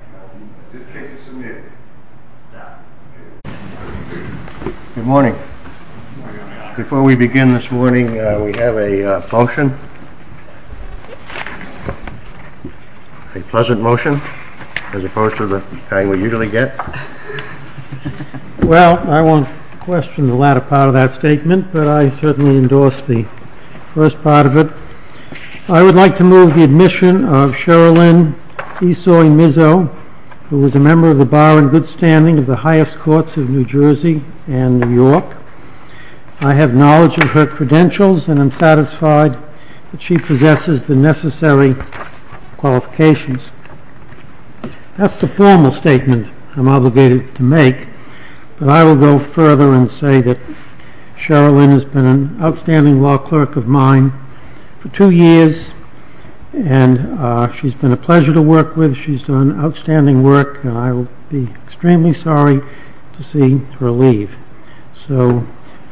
Good morning. Before we begin this morning we have a function, a pleasant motion as opposed to the kind we usually get. Well, I won't question the latter part of that statement but I certainly endorse the first part of it. I would like to move the admission of Esau Emizo who is a member of the bar in good standing of the highest courts of New Jersey and New York. I have knowledge of her credentials and I'm satisfied that she possesses the necessary qualifications. That's the formal statement I'm obligated to make but I will go further and say that Cheryl Lynn has been an outstanding law clerk of mine for two years and she's been a pleasure to work with. She's done outstanding work and I would be extremely sorry to see her leave. So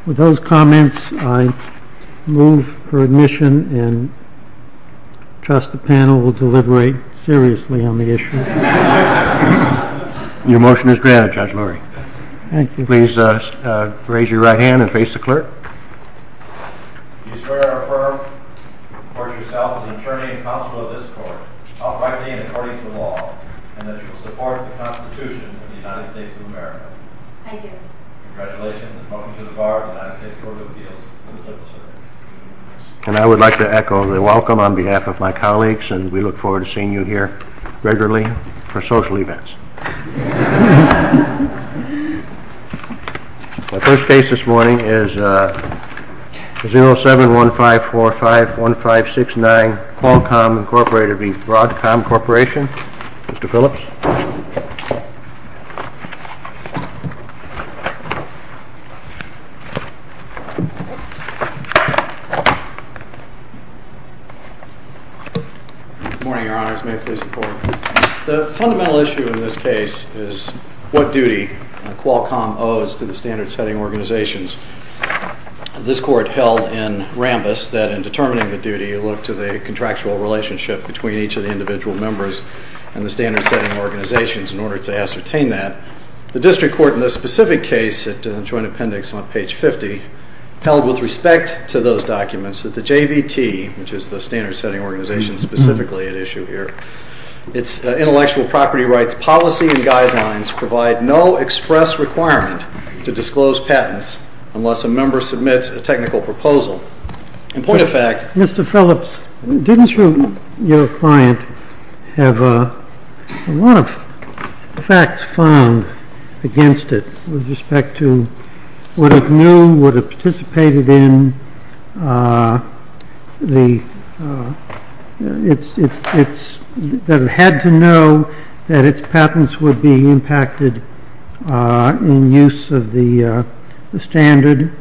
with those comments I move her admission and trust the panel will deliberate seriously on the issue. Your motion is granted Judge Lurie. Thank you. Please raise your right hand and face the clerk. Do you swear or affirm that you yourself are the attorney and constable of this court outrightly and according to the law and that you will support the constitution of the United States of America? Thank you. Congratulations and welcome to the bar of the United States Court of Appeals. And I would like to echo the welcome on behalf of my colleagues and we look forward to seeing you here regularly for social events. My first case this morning is 07-1545-1569 Qualcomm Incorporated v. Broadcom Corporation. Mr. Phillips. Good morning, your honors. May it please the court. The fundamental issue in this case is what duty Qualcomm owes to the standard setting organizations. This court held in Rambis that in determining the duty it looked to the contractual relationship between each of the individual members and the standard setting organizations in order to ascertain that. The district court in this specific case, in the joint appendix on page 50, held with respect to those documents that the JVT, which is the standard setting organization specifically at issue here, its intellectual property rights policy and guidelines provide no express requirement to disclose patents unless a member submits a technical proposal. In point of fact. Mr. Phillips, didn't your client have a lot of facts found against it with respect to what it knew, what it participated in, that it had to know that its patents would be impacted in use of the standard?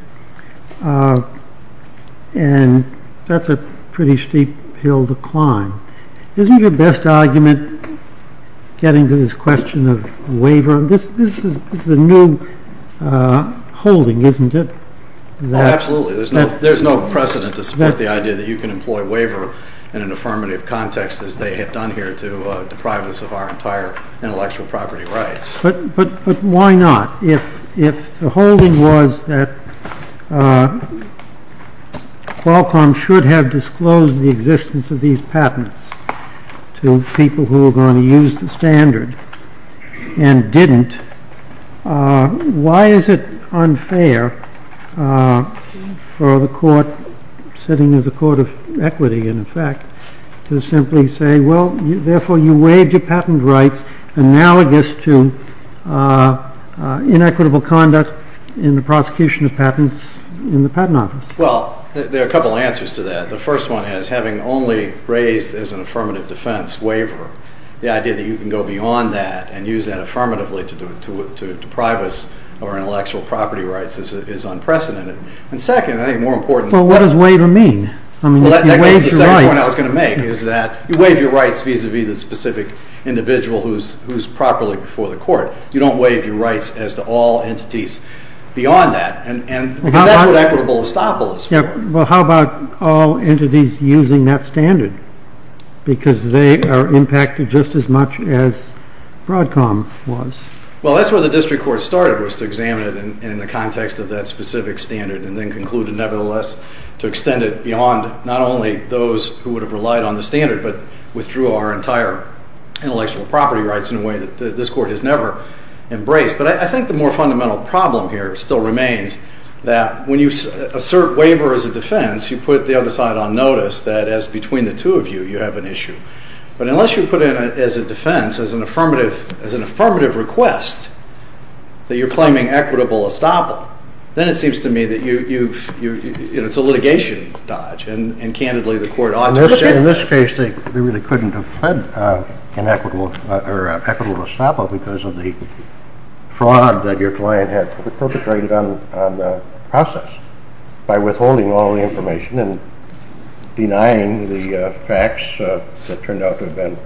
And that's a pretty steep hill to climb. Isn't your best argument getting to this question of waiver? This is a new holding, isn't it? Absolutely. There's no precedent to support the idea that you can employ waiver in an affirmative context as they have done here to deprive us of our entire intellectual property rights. But why not? If the holding was that Qualcomm should have disclosed the existence of these patents to people who were going to use the standard and didn't, why is it unfair for the court, sitting as a court of equity in effect, to simply say, well, therefore you waived your patent rights, analogous to inequitable conduct in the prosecution of patents in the Patent Office? Well, there are a couple of answers to that. The first one is, having only raised as an affirmative defense waiver, the idea that you can go beyond that and use that affirmatively to deprive us of our intellectual property rights is unprecedented. And second, I think more important— But what does waiver mean? Well, that goes to the second point I was going to make, is that you waive your rights vis-a-vis the specific individual who's properly before the court. You don't waive your rights as to all entities beyond that. Because that's what equitable estoppel is for. Well, how about all entities using that standard? Because they are impacted just as much as Broadcom was. Well, that's where the district court started, was to examine it in the context of that specific standard and then concluded nevertheless to extend it beyond not only those who would have relied on the standard but withdrew our entire intellectual property rights in a way that this court has never embraced. But I think the more fundamental problem here still remains that when you assert waiver as a defense, you put the other side on notice that as between the two of you, you have an issue. But unless you put it as a defense, as an affirmative request, that you're claiming equitable estoppel, then it seems to me that it's a litigation dodge and, candidly, the court ought to check. In this case, they really couldn't have pled equitable estoppel because of the fraud that your client had perpetrated on the process by withholding all the information and denying the facts that turned out to have been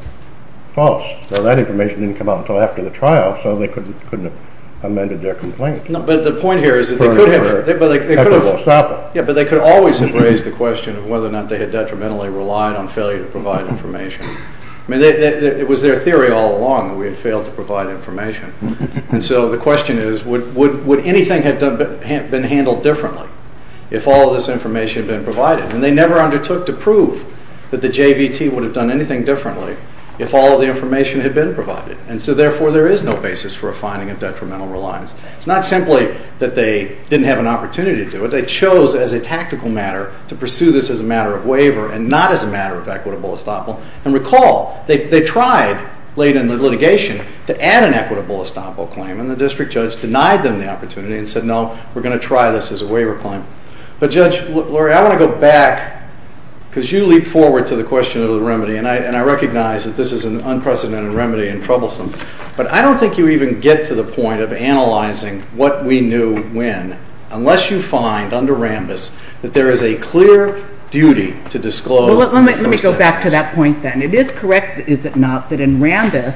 false. That information didn't come out until after the trial, so they couldn't have amended their complaint. But the point here is that they could have. Equitable estoppel. Yeah, but they could always have raised the question of whether or not they had detrimentally relied on failure to provide information. I mean, it was their theory all along that we had failed to provide information. And so the question is, would anything have been handled differently if all of this information had been provided? And they never undertook to prove that the JVT would have done anything differently if all of the information had been provided. And so, therefore, there is no basis for a finding of detrimental reliance. It's not simply that they didn't have an opportunity to do it. They chose, as a tactical matter, to pursue this as a matter of waiver and not as a matter of equitable estoppel. And recall, they tried late in the litigation to add an equitable estoppel claim and the district judge denied them the opportunity and said, no, we're going to try this as a waiver claim. But, Judge Lurie, I want to go back because you leap forward to the question of the remedy and I recognize that this is an unprecedented remedy and troublesome. But I don't think you even get to the point of analyzing what we knew when unless you find under Rambis that there is a clear duty to disclose Well, let me go back to that point then. It is correct, is it not, that in Rambis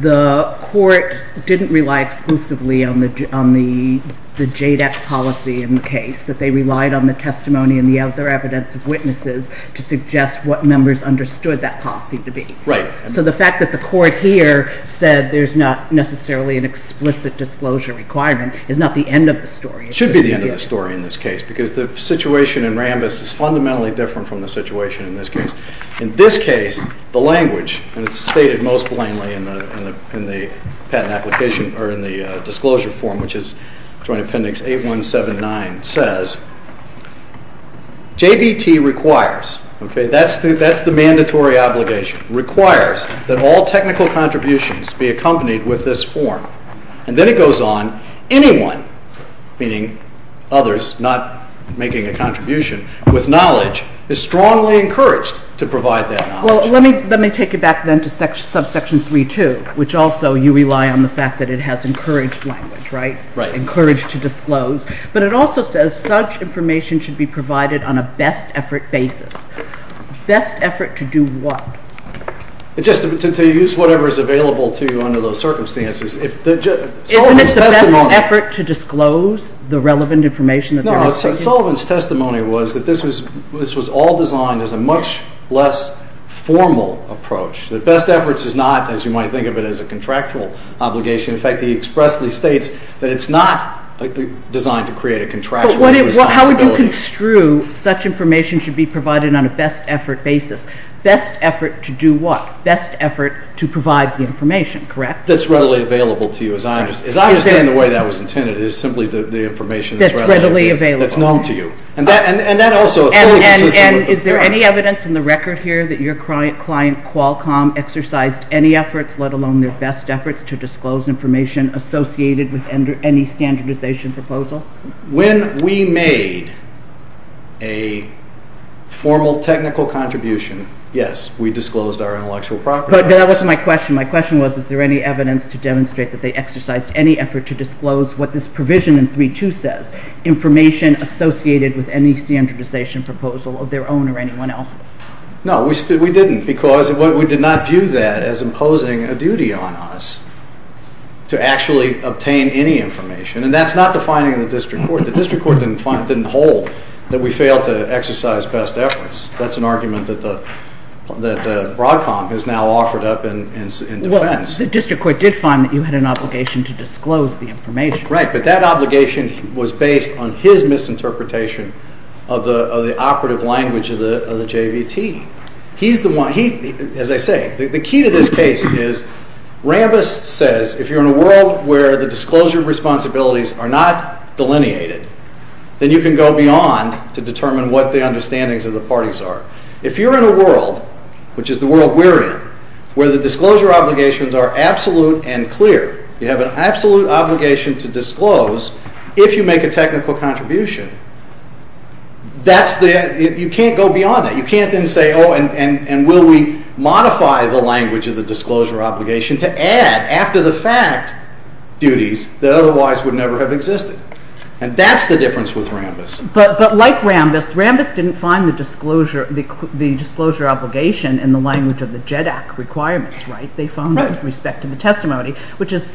the court didn't rely exclusively on the JDEX policy in the case. That they relied on the testimony and the other evidence of witnesses to suggest what members understood that policy to be. Right. So the fact that the court here said there's not necessarily an explicit disclosure requirement is not the end of the story. It should be the end of the story in this case because the situation in Rambis is fundamentally different from the situation in this case. In this case, the language, and it's stated most plainly in the patent application, or in the disclosure form which is Joint Appendix 8179, says JVT requires, okay, that's the mandatory obligation requires that all technical contributions be accompanied with this form. And then it goes on, anyone, meaning others not making a contribution, with knowledge is strongly encouraged to provide that knowledge. Well, let me take you back then to subsection 3.2 which also you rely on the fact that it has encouraged language, right? Right. Encouraged to disclose. But it also says such information should be provided on a best effort basis. Best effort to do what? Just to use whatever is available to you under those circumstances. Isn't it the best effort to disclose the relevant information? No, Sullivan's testimony was that this was all designed as a much less formal approach. That best efforts is not, as you might think of it, as a contractual obligation. In fact, he expressly states that it's not designed to create a contractual responsibility. But how would you construe such information should be provided on a best effort basis? Best effort to do what? Best effort to provide the information, correct? That's readily available to you. As I understand the way that was intended, it's simply the information that's known to you. That's readily available. And that also fully consists of the fact. And is there any evidence in the record here that your client Qualcomm exercised any efforts let alone their best efforts to disclose information associated with any standardization proposal? When we made a formal technical contribution yes, we disclosed our intellectual property rights. But that wasn't my question. My question was, is there any evidence to demonstrate that they exercised any effort to disclose what this provision in 3.2 says, information associated with any standardization proposal of their own or anyone else? No, we didn't. Because we did not view that as imposing a duty on us to actually obtain any information. And that's not the finding of the district court. The district court didn't hold that we failed to exercise best efforts. That's an argument that Broadcom has now offered up in defense. The district court did find that you had an obligation to disclose the information. Right, but that obligation was based on his misinterpretation of the operative language of the JVT. He's the one, as I say, the key to this case is Rambis says, if you're in a world where the disclosure responsibilities are not delineated, then you can go beyond to determine what the understandings of the parties are. If you're in a world, which is the world we're in, where the disclosure obligations are absolute and clear, you have an absolute obligation to disclose if you make a technical contribution, you can't go beyond that. You can't then say, oh, and will we modify the language of the disclosure obligation to add, after the fact, duties that otherwise would never have existed. And that's the difference with Rambis. But like Rambis, Rambis didn't find the disclosure obligation in the language of the JEDAC requirements, right? They found it with respect to the testimony, which is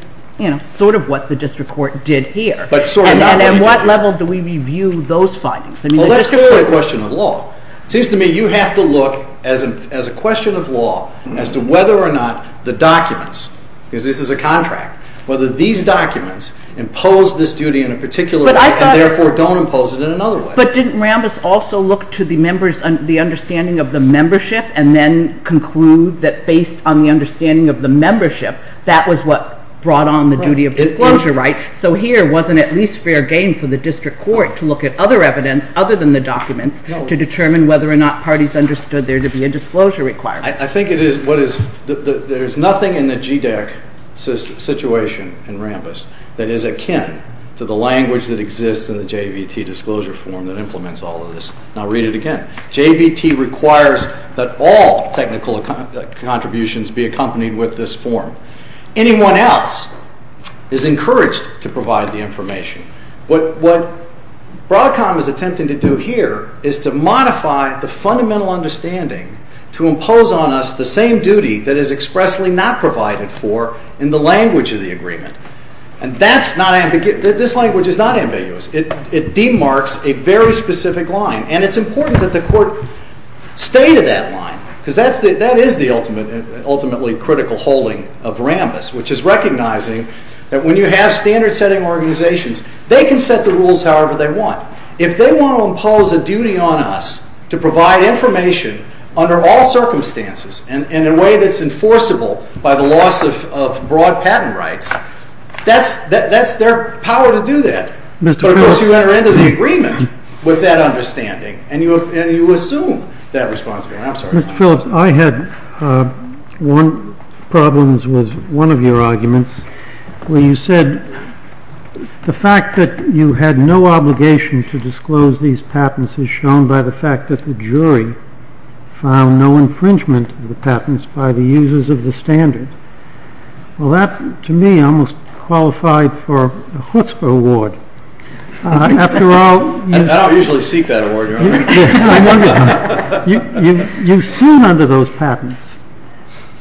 sort of what the district court did here. And at what level do we review those findings? Well, that's going to be a question of law. It seems to me you have to look as a question of law as to whether or not the documents, because this is a contract, whether these documents impose this duty in a particular way and therefore don't impose it in another way. But didn't Rambis also look to the members and the understanding of the membership and then conclude that based on the understanding of the membership that was what brought on the duty of disclosure, right? So here wasn't at least fair game for the district court to look at other evidence other than the documents to determine whether or not parties understood there to be a disclosure requirement. I think it is what is, there's nothing in the JEDAC situation in Rambis that is akin to the language that exists in the JVT disclosure form that implements all of this. And I'll read it again. JVT requires that all technical contributions be accompanied with this form. Anyone else is encouraged to provide the information. What Broadcom is attempting to do here is to modify the fundamental understanding to impose on us the same duty that is expressly not provided for in the language of the agreement. And that's not, this language is not ambiguous. It demarks a very specific line. And it's important that the court stay to that line. Because that is the ultimately critical holding of Rambis, which is recognizing that when you have standard-setting organizations, they can set the rules however they want. If they want to impose a duty on us to provide information under all circumstances and in a way that's enforceable by the loss of broad patent rights, that's their power to do that. But of course you enter into the agreement with that understanding. And you assume that responsibility. I'm sorry. Mr. Phillips, I had one problem with one of your arguments where you said the fact that you had no obligation to disclose these patents is shown by the fact that the jury found no infringement of the patents by the users of the standard. Well, that to me almost qualified for a chutzpah award. After all... I don't usually seek that award. I know you don't. You sued under those patents.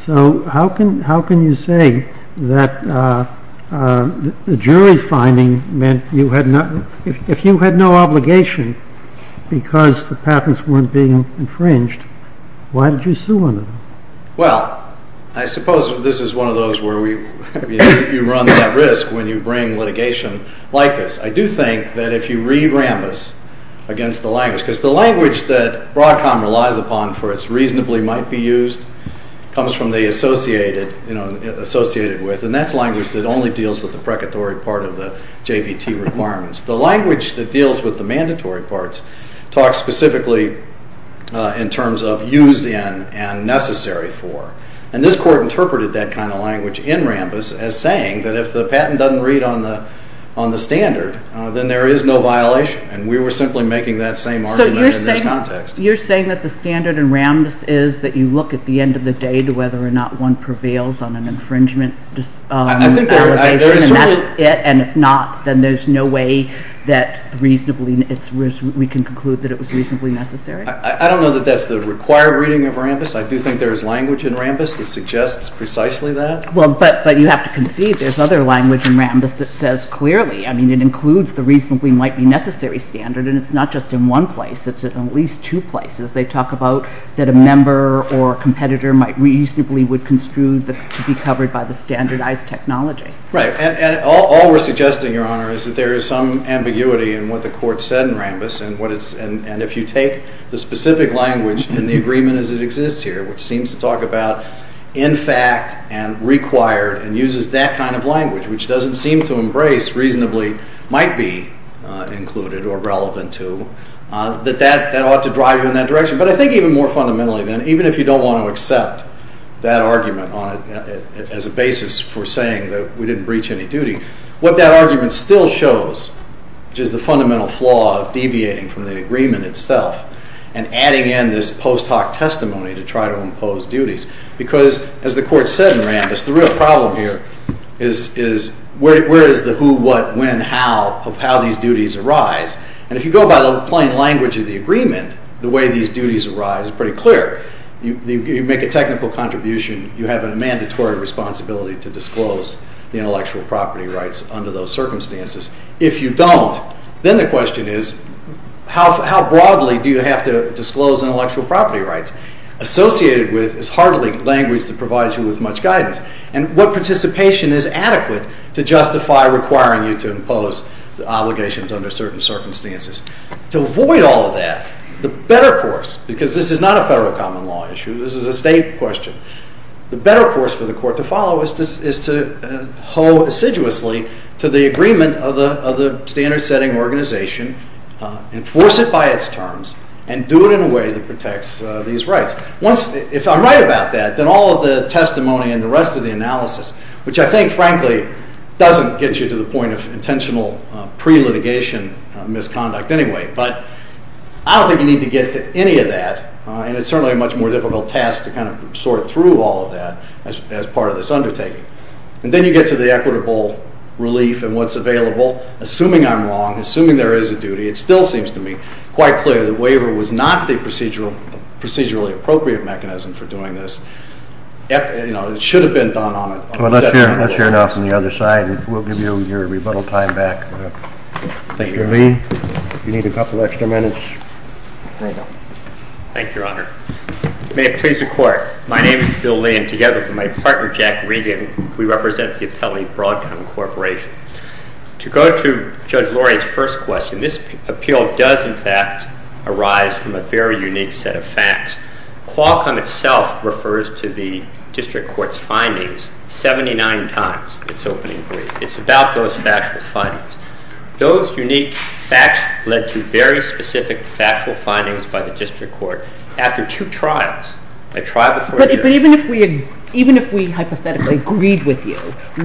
So how can you say that the jury's finding meant if you had no obligation because the patents weren't being infringed, why did you sue under them? Well, I suppose this is one of those where you run that risk when you bring litigation like this. I do think that if you read Rambis against the language, because the language that Broadcom relies upon for its reasonably might be used comes from the associated, associated with, and that's language that only deals with the precatory part of the JVT requirements. The language that deals with the mandatory parts talks specifically in terms of used in and necessary for. And this court interpreted that kind of language in Rambis as saying that if the patent doesn't read on the standard, then there is no violation. And we were simply making that same argument in this context. So you're saying that the standard in Rambis is that you look at the end of the day to whether or not one prevails on an infringement. And if not, then there's no way that reasonably, we can conclude that it was reasonably necessary? I don't know that that's the required reading of Rambis. I do think there is language in Rambis that suggests precisely that. But you have to concede there's other language in Rambis that says clearly. It includes the reasonably might be necessary standard, and it's not just in one place. It's in at least two places. They talk about that a member or competitor might reasonably would construe to be covered by the standardized technology. Right. And all we're suggesting, Your Honor, is that there is some ambiguity in what the court said in Rambis and if you take the specific language and the agreement as it exists here, which seems to talk about in fact and required and uses that kind of language, which doesn't seem to embrace reasonably might be included or relevant to, that that ought to drive you in that direction. But I think even more fundamentally then, even if you don't want to accept that argument as a basis for saying that we didn't breach any duty, what that argument still shows, which is the fundamental flaw of deviating from the agreement itself and adding in this post hoc testimony to try to impose duties. Because as the court said in Rambis, the real problem here is where is the who, what, when, how of how these duties arise? And if you go by the plain language of the agreement the way these duties arise is pretty clear. You make a technical contribution, you have a mandatory responsibility to disclose the intellectual property rights under those circumstances. If you don't, then the question is how broadly do you have to disclose intellectual property rights? Associated with is hardly language that provides you with much guidance. And what participation is adequate to justify requiring you to impose obligations under certain circumstances? To avoid all of that, the better course, because this is not a federal common law issue, this is a state question, the better course for the court to follow is to hoe assiduously to the agreement of the standard setting organization, enforce it by its terms, and do it in a way that protects these rights. Once, if I'm right about that, then all of the testimony and the rest of the analysis, which I think frankly doesn't get you to the point of intentional pre-litigation misconduct anyway, but I don't think you need to get to any of that and it's certainly a much more difficult task to kind of sort through all of that as part of this undertaking. And then you get to the equitable relief and what's available. Assuming I'm wrong, assuming there is a duty, it still seems to me quite clear that waiver was not the procedurally appropriate mechanism for doing this. It should have been done on a federal level. Let's hear it off on the other side and we'll give you your rebuttal time back. Mr. Lee, you need a couple extra minutes. Thank you, Your Honor. May it please the court, my name is Bill Lee and together with my partner Jack Regan we represent the appellate Broadcom Corporation. To go to Judge Lori's first question, this appeal does in fact arise from a very unique set of facts. Qualcomm itself refers to the district court's findings 79 times its opening brief. It's about those factual findings. Those unique facts led to very specific factual findings by the district court after two trials. A trial before a jury. Even if we hypothetically agreed with you,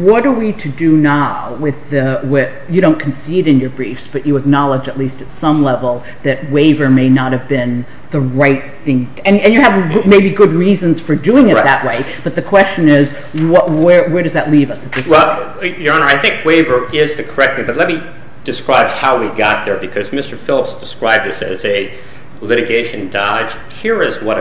what are we to do now with the you don't concede in your briefs but you acknowledge at least at some level that waiver may not have been the right thing and you have maybe good reasons for doing it that way but the question is where does that leave us? Your Honor, I think waiver is the correct thing but let me describe how we got there because Mr. Phillips described this as a litigation dodge. Here is what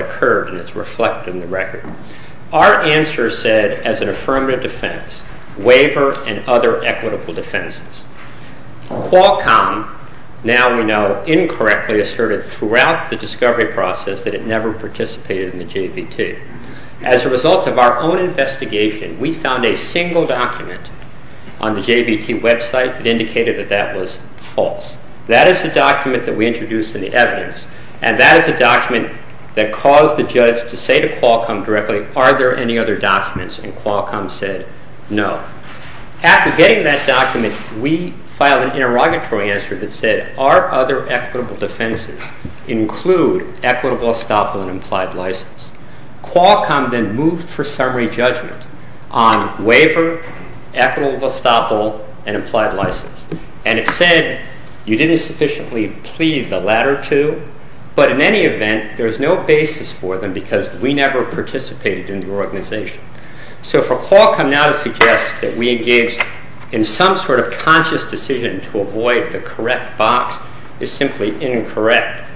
our answer said as an affirmative defense. Waiver and other equitable defenses. Qualcomm now we know incorrectly asserted throughout the discovery process that it never participated in the JVT. As a result of our own investigation, we found a single document on the JVT website that indicated that that was false. That is the document that we introduced in the evidence and that is a document that caused the judge to say to Qualcomm directly are there any other documents and Qualcomm said no. After getting that document, we filed an interrogatory answer that said are other equitable defenses include equitable estoppel and implied license? Qualcomm then moved for summary judgment on waiver, equitable estoppel and implied license and it said you didn't sufficiently plead the latter two but in any event there is no basis for them because we never participated in the organization. So for Qualcomm now to suggest that we engaged in some sort of conscious decision to avoid the correct box is simply incorrect.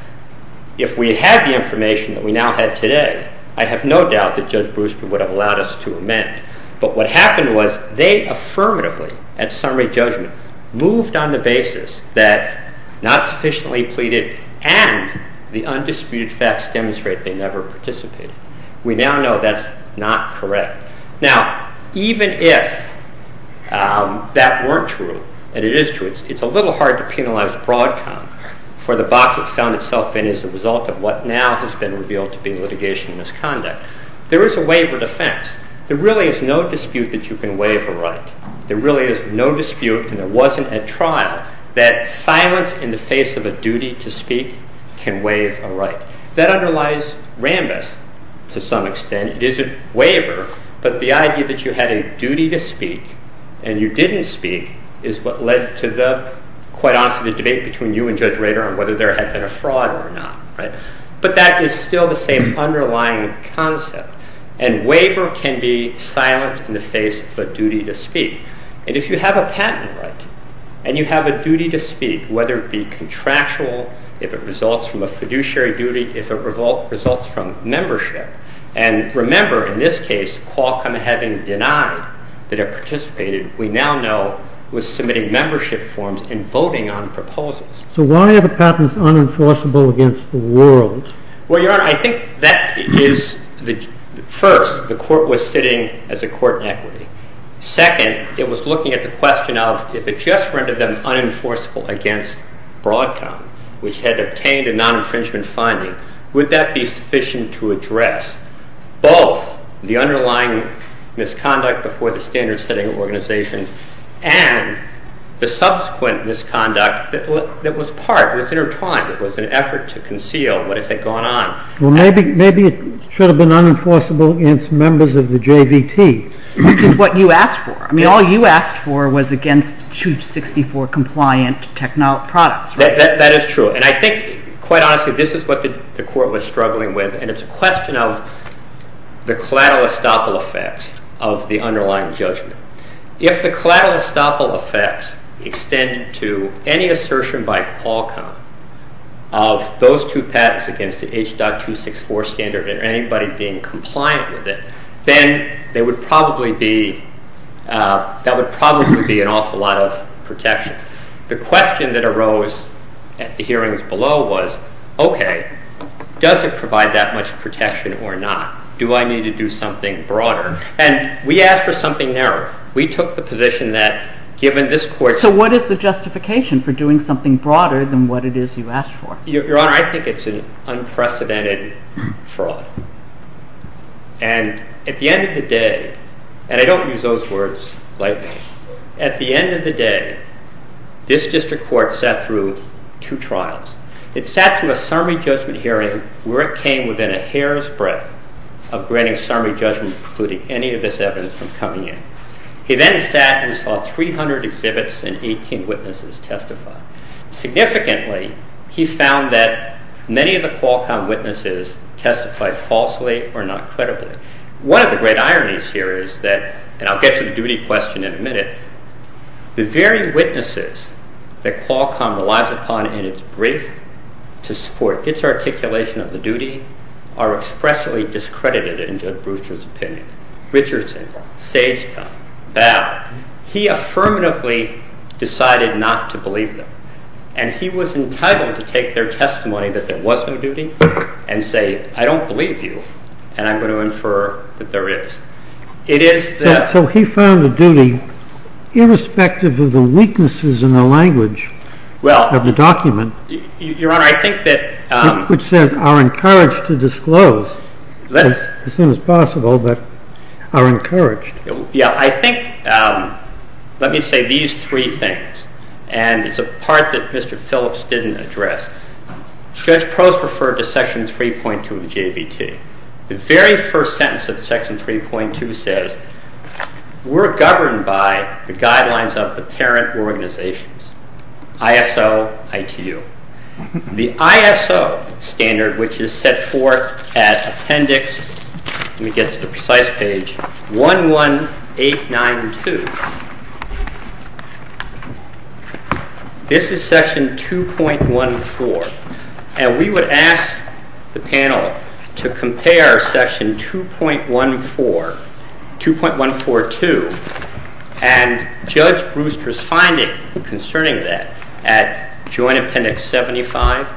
If we had the information that we now had today, I have no doubt that Judge Brewster would have allowed us to amend. But what happened was they affirmatively at summary judgment moved on the basis that not sufficiently pleaded and the undisputed facts demonstrate they never participated. We now know that's not correct. Now even if that weren't true and it is true it's a little hard to penalize Broadcom for the box it found itself in as a result of what now has been revealed to be litigation misconduct. There is a waiver defense. There really is no dispute that you can waive a right. There really is no dispute and there wasn't a trial that silence in the face of a duty to speak can waive a right. That underlies Rambis to some extent. It is a waiver but the idea that you had a duty to speak and you didn't speak is what led to the quite often the debate between you and Judge Rader on whether there had been a fraud or not. But that is still the same underlying concept and waiver can be silence in the face of a duty to speak. And if you have a patent right and you have a duty to speak whether it be contractual, if it results from a fiduciary duty, if it results from membership and remember in this case Qualcomm having denied that it participated we now know was submitting membership forms and voting on proposals. So why are the patents unenforceable against the world? Well Your Honor I think that is first the court was sitting as a court in equity. Second it was looking at the question of if it just rendered them unenforceable against Broadcom which had obtained a non-infringement finding would that be sufficient to address both the underlying misconduct before the standard setting organizations and the subsequent misconduct that was part was intertwined it was an effort to conceal what had it should have been unenforceable against members of the JVT. Which is what you asked for. I mean all you asked for was against 264 compliant technology products. That is true and I think quite honestly this is what the court was struggling with and it's a question of the collateral estoppel effects of the underlying judgment. If the collateral estoppel effects extend to any assertion by Qualcomm of those two patents against the H.264 standard and anybody being compliant with it then they would probably be that would probably be an awful lot of protection the question that arose at the hearings below was okay does it provide that much protection or not do I need to do something broader and we asked for something narrower we took the position that given this court. So what is the justification for doing something broader than what it is you asked for? Your honor I think it's an unprecedented fraud and at the end of the day and I don't use those words lightly at the end of the day this district court sat through two trials. It sat through a summary judgment hearing where it came within a hair's breadth of granting summary judgment precluding any of this evidence from coming in. He then sat and saw 300 exhibits and 18 witnesses testify. Significantly he found that many of the witnesses testified falsely or not credibly. One of the great ironies here is that and I'll get to the duty question in a minute the very witnesses that Qualcomm relies upon in it's brief to support it's articulation of the duty are expressly discredited in Judge Brewster's opinion. Richardson, Sagetown, Ballot. He affirmatively decided not to believe them and he was entitled to take their testimony that there was no duty and say I don't believe you and I'm going to infer that there is. So he found a duty irrespective of the weaknesses in the language of the document which says are encouraged to disclose as soon as possible but are encouraged. Let me say these three things and it's a part that Mr. Phillips didn't address. Judge Probst referred to section 3.2 of the JVT. The very first sentence of section 3.2 says we're governed by the guidelines of the parent organizations ISO, ITU. The ISO standard which is set forth at appendix let me get to the precise page 11892 This is section 2.14 and we would ask the panel to compare section 2.14 2.142 and Judge Brewster's finding concerning that at joint appendix 75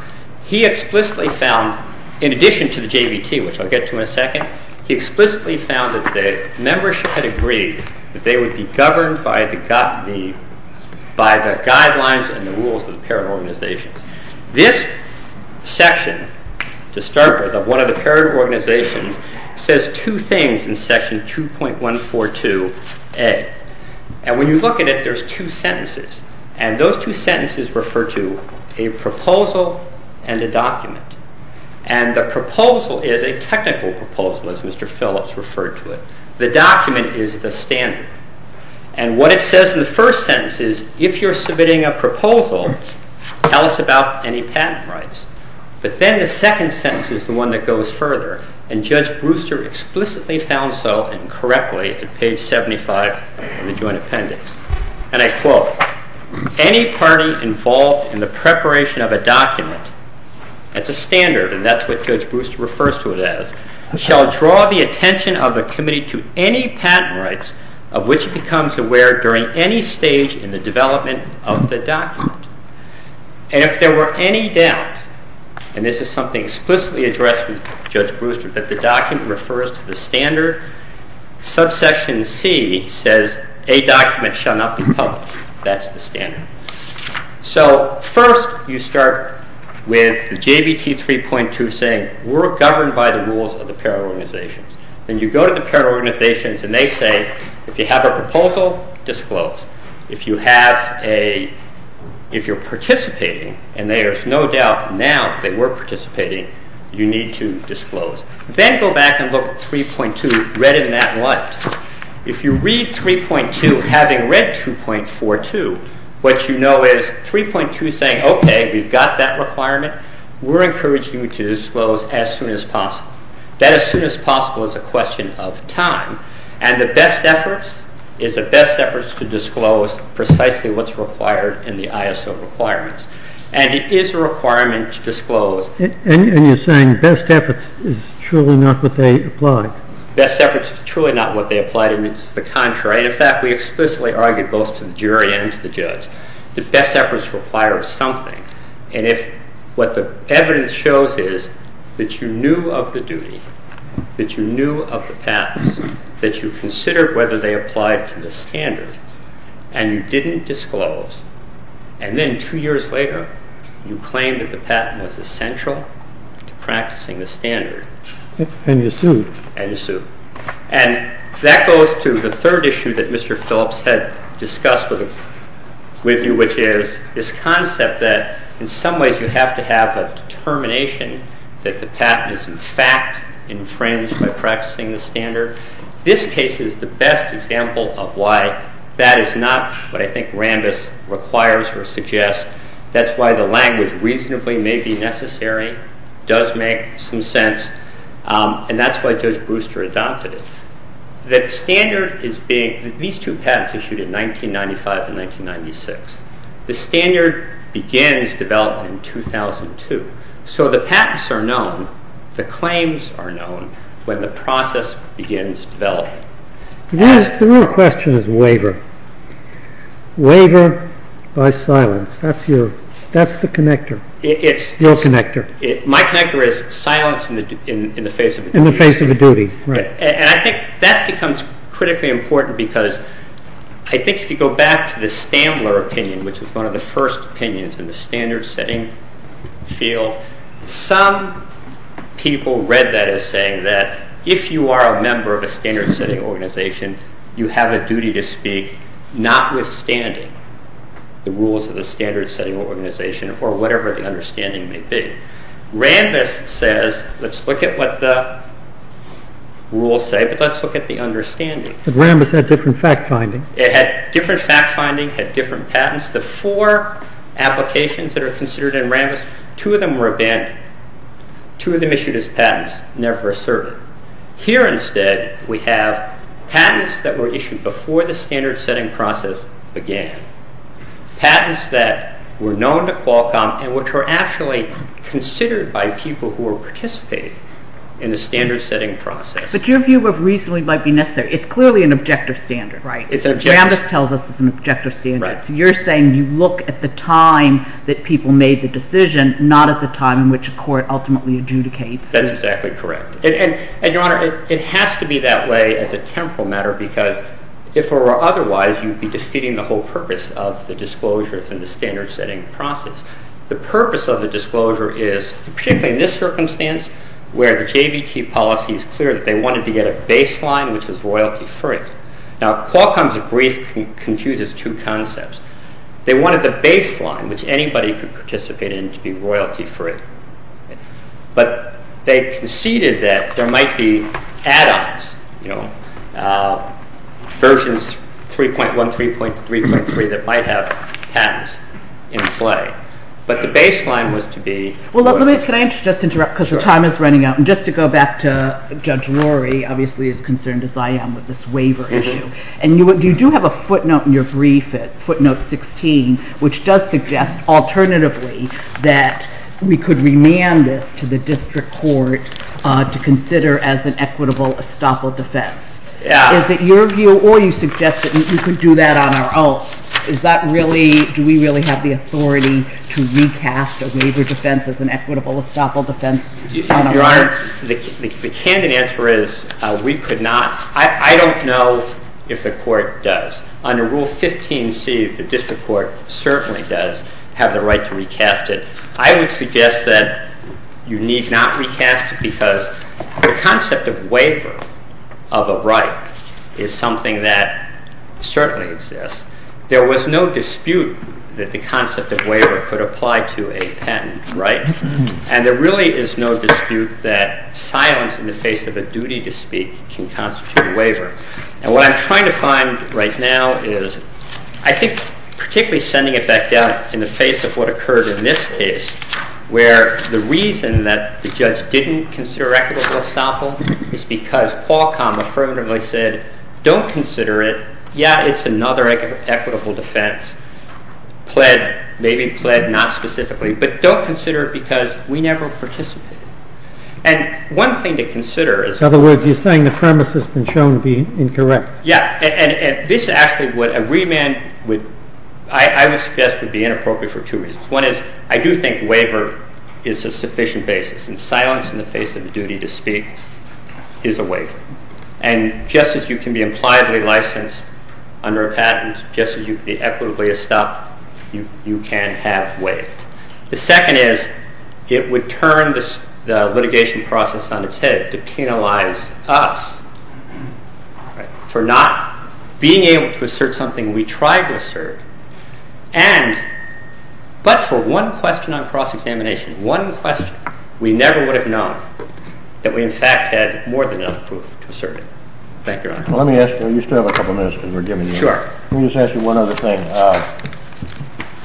he explicitly found in addition to the JVT which I'll get to in a second he explicitly found that the membership had agreed that they would be governed by the guidelines and the rules of the parent organizations This section to start with of one of the parent organizations says two things in section 2.142A and when you look at it there's two sentences and those two sentences refer to a proposal and a document and the proposal is a technical proposal as Mr. Phillips referred to the document is the standard and what it says in the first sentence is if you're submitting a proposal tell us about any patent rights but then the second sentence is the one that goes further and Judge Brewster explicitly found so and correctly at page 75 of the joint appendix and I quote any party involved in the preparation of a document at the standard and that's what Judge Brewster refers to it as shall draw the attention of the committee to any patent rights of which becomes aware during any stage in the development of the document and if there were any doubt and this is something explicitly addressed with Judge Brewster that the document refers to the standard subsection C says a document shall not be public that's the standard so first you start with the JBT 3.2 and you're saying we're governed by the rules of the para-organizations then you go to the para-organizations and they say if you have a proposal disclose if you have a if you're participating and there's no doubt now that we're participating you need to disclose then go back and look at 3.2 read in that light if you read 3.2 having read 2.42 what you know is 3.2 saying okay we've got that you need to disclose as soon as possible that as soon as possible is a question of time and the best efforts is the best efforts to disclose precisely what's required in the ISO requirements and it is a requirement to disclose and you're saying best efforts is truly not what they applied best efforts is truly not what they applied and it's the contrary in fact we explicitly argued both to the jury and to the judge that best efforts require something and if what the evidence shows is that you knew of the duty that you knew of the patents that you considered whether they applied to the standard and you didn't disclose and then two years later you claimed that the patent was essential to practicing the standard and you sued and that goes to the third issue that Mr. Phillips had discussed with you which is this concept that in some ways you have to have a determination that the patent is in fact infringed by practicing the standard this case is the best example of why that is not what I think Rambis requires or suggests that's why the language reasonably may be necessary does make some sense and that's why Judge Brewster adopted it that standard is being these two patents issued in the standard begins developed in 2002 so the patents are known the claims are known when the process begins developing the real question is waiver waiver by silence that's the connector your connector my connector is silence in the face of a duty and I think that becomes critically important because I think if you go back to the Stambler opinion which is one of the first opinions in the standard setting field some people read that as saying that if you are a member of a standard setting organization you have a duty to speak notwithstanding the rules of the standard setting organization or whatever the understanding may be Rambis says let's look at what the rules say but let's look at the understanding Rambis had different fact finding different fact finding had different patents the four applications that are considered in Rambis two of them were abandoned two of them issued as patents never asserted here instead we have patents that were issued before the standard setting process began patents that were known to Qualcomm and which were actually considered by people who were participating in the standard setting process but your view of reason might be necessary it's clearly an objective standard Rambis tells us it's an objective standard you're saying you look at the time that people made the decision not at the time in which a court ultimately adjudicates that's exactly correct and your honor it has to be that way as a temporal matter because if it were otherwise you would be defeating the whole purpose of the disclosure in the standard setting process the purpose of the disclosure is particularly in this circumstance where the JVT policy is clear that they wanted to get a baseline which was royalty free now Qualcomm's brief confuses two concepts they wanted the baseline which anybody could participate in to be royalty free but they conceded that there might be add-ons you know versions 3.1 3.3 that might have patents in play but the baseline was to be well let me just interrupt because the time is running out and just to go back to Judge Rory obviously as concerned as I am with this waiver issue and you do have a footnote in your brief footnote 16 which does suggest alternatively that we could remand this to the district court to consider as an equitable estoppel defense is it your view or you suggest that we could do that on our own do we really have the authority to recast a waiver defense as an equitable estoppel defense your honor the candid answer is we could not I don't know if the court does under rule 15c the district court certainly does have the right to recast it I would suggest that you need not recast it because the concept of waiver of a right is something that certainly exists there was no dispute that the concept of waiver could apply to a patent and there really is no dispute that silence in the face of a duty to speak can constitute a waiver and what I'm trying to find right now is I think particularly sending it back down in the face of what occurred in this case where the reason that the judge didn't consider equitable estoppel is because Qualcomm affirmatively said don't consider it, yeah it's another equitable defense pled, maybe pled not specifically but don't consider it because we never participated and one thing to consider is in other words you're saying the premise has been shown to be incorrect, yeah and this actually would, a remand would I would suggest would be inappropriate for two reasons, one is I do think waiver is a sufficient basis and silence in the face of a duty to speak is a waiver and just as you can be implied licensed under a patent just as you can be equitably estopped you can have waived the second is it would turn the litigation process on its head to penalize us for not being able to assert something we tried to assert and but for one question on cross examination, one question we never would have known that we in fact had more than enough proof to assert thank you your honor you still have a couple minutes let me just ask you one other thing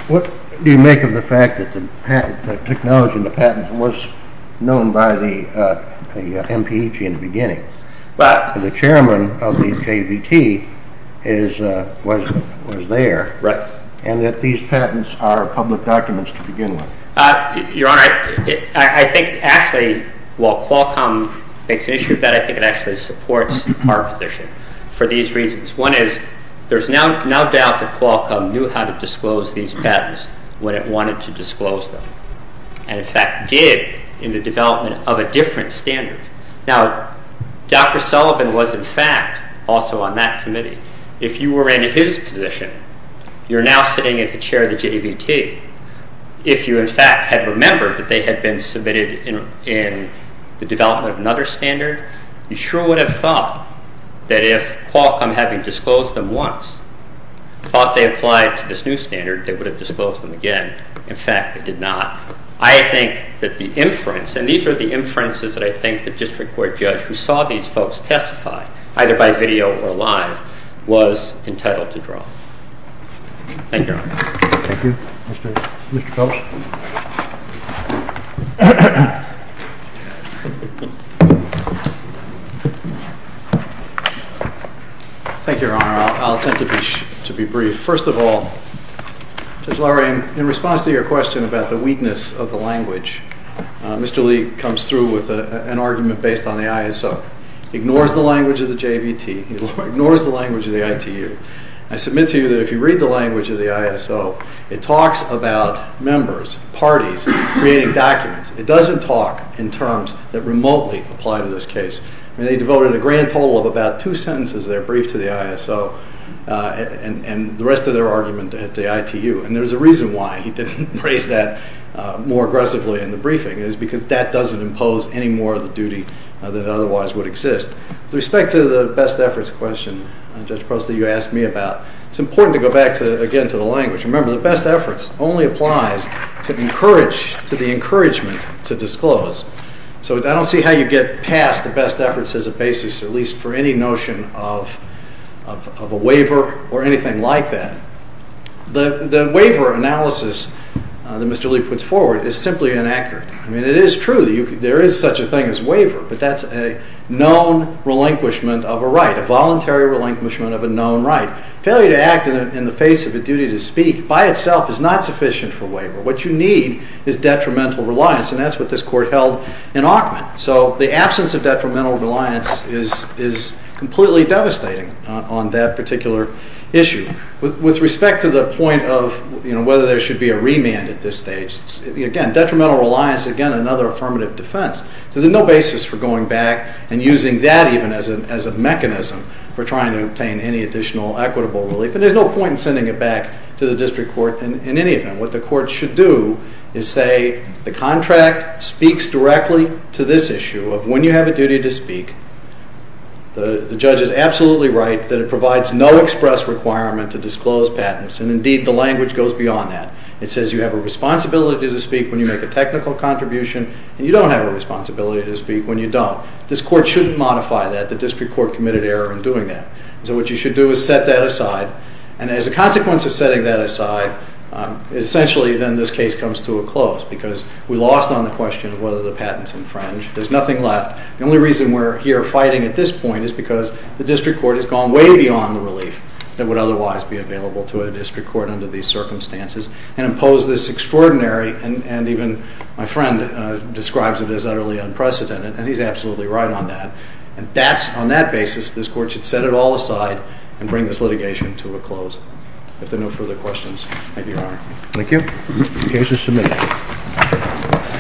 what do you make of the fact that the technology in the patents was known by the MPEG in the beginning that the chairman of the KVT was there and that these patents are public documents to begin with your honor I think actually while Qualcomm makes an issue of that I think it actually supports our position for these reasons. One is there's no doubt that Qualcomm knew how to disclose these patents when it wanted to disclose them and in fact did in the development of a different standard. Now Dr. Sullivan was in fact also on that committee if you were in his position you're now sitting as the chair of the JVT if you in fact had remembered that they had been submitted in the development of another standard you sure would have thought that if Qualcomm having disclosed them once thought they applied to this new standard they would have disclosed them again in fact they did not. I think that the inference and these are the inferences that I think the district court judge who saw these folks testify either by video or live was entitled to draw. Thank you your honor. Thank you. Mr. Coates Thank you your honor. Thank you your honor. I'll attempt to be brief. First of all Judge Lorraine in response to your question about the weakness of the language Mr. Lee comes through with an argument based on the ISO ignores the language of the JVT ignores the language of the ITU language of the ISO it talks about members, parties creating documents. It doesn't talk in terms that remotely apply to this case. They devoted a grand total of about two sentences of their brief to the ISO and the rest of their argument at the ITU and there's a reason why he didn't raise that more aggressively in the briefing is because that doesn't impose any more of the duty that otherwise would exist. With respect to the best efforts question Judge Postley you asked me about it's important to go back to again to the language. Remember the best efforts only applies to encourage to the encouragement to disclose so I don't see how you get past the best efforts as a basis at least for any notion of of a waiver or anything like that. The waiver analysis that Mr. Lee puts forward is simply inaccurate I mean it is true there is such a thing as waiver but that's a known relinquishment of a right a voluntary relinquishment of a known right failure to act in the face of a duty to speak by itself is not sufficient for waiver. What you need is detrimental reliance and that's what this court held in Auckland so the absence of detrimental reliance is completely devastating on that particular issue. With respect to the point of whether there should be a remand at this stage again detrimental reliance again another affirmative defense so there's no basis for going back and using that even as a mechanism for trying to obtain any additional equitable relief and there's no point in sending it back to the district court in any of them what the court should do is say the contract speaks directly to this issue of when you have a duty to speak the judge is absolutely right that it provides no express requirement to disclose patents and indeed the language goes beyond that. It says you have a responsibility to speak when you make a technical contribution and you don't have a responsibility to speak when you don't. This court shouldn't modify that. The district court committed error in doing that. So what you should do is set that aside and as a consequence of setting that aside essentially then this case comes to a close because we lost on the question of whether the patents infringe. There's nothing left the only reason we're here fighting at this point is because the district court has gone way beyond the relief that would otherwise be available to a district court under these circumstances and imposed this extraordinary and even my friend describes it as utterly unprecedented and he's absolutely right on that and that's on that basis this court should set it all aside and bring this litigation to a close. If there are no further questions I give your honor. Thank you the case is submitted.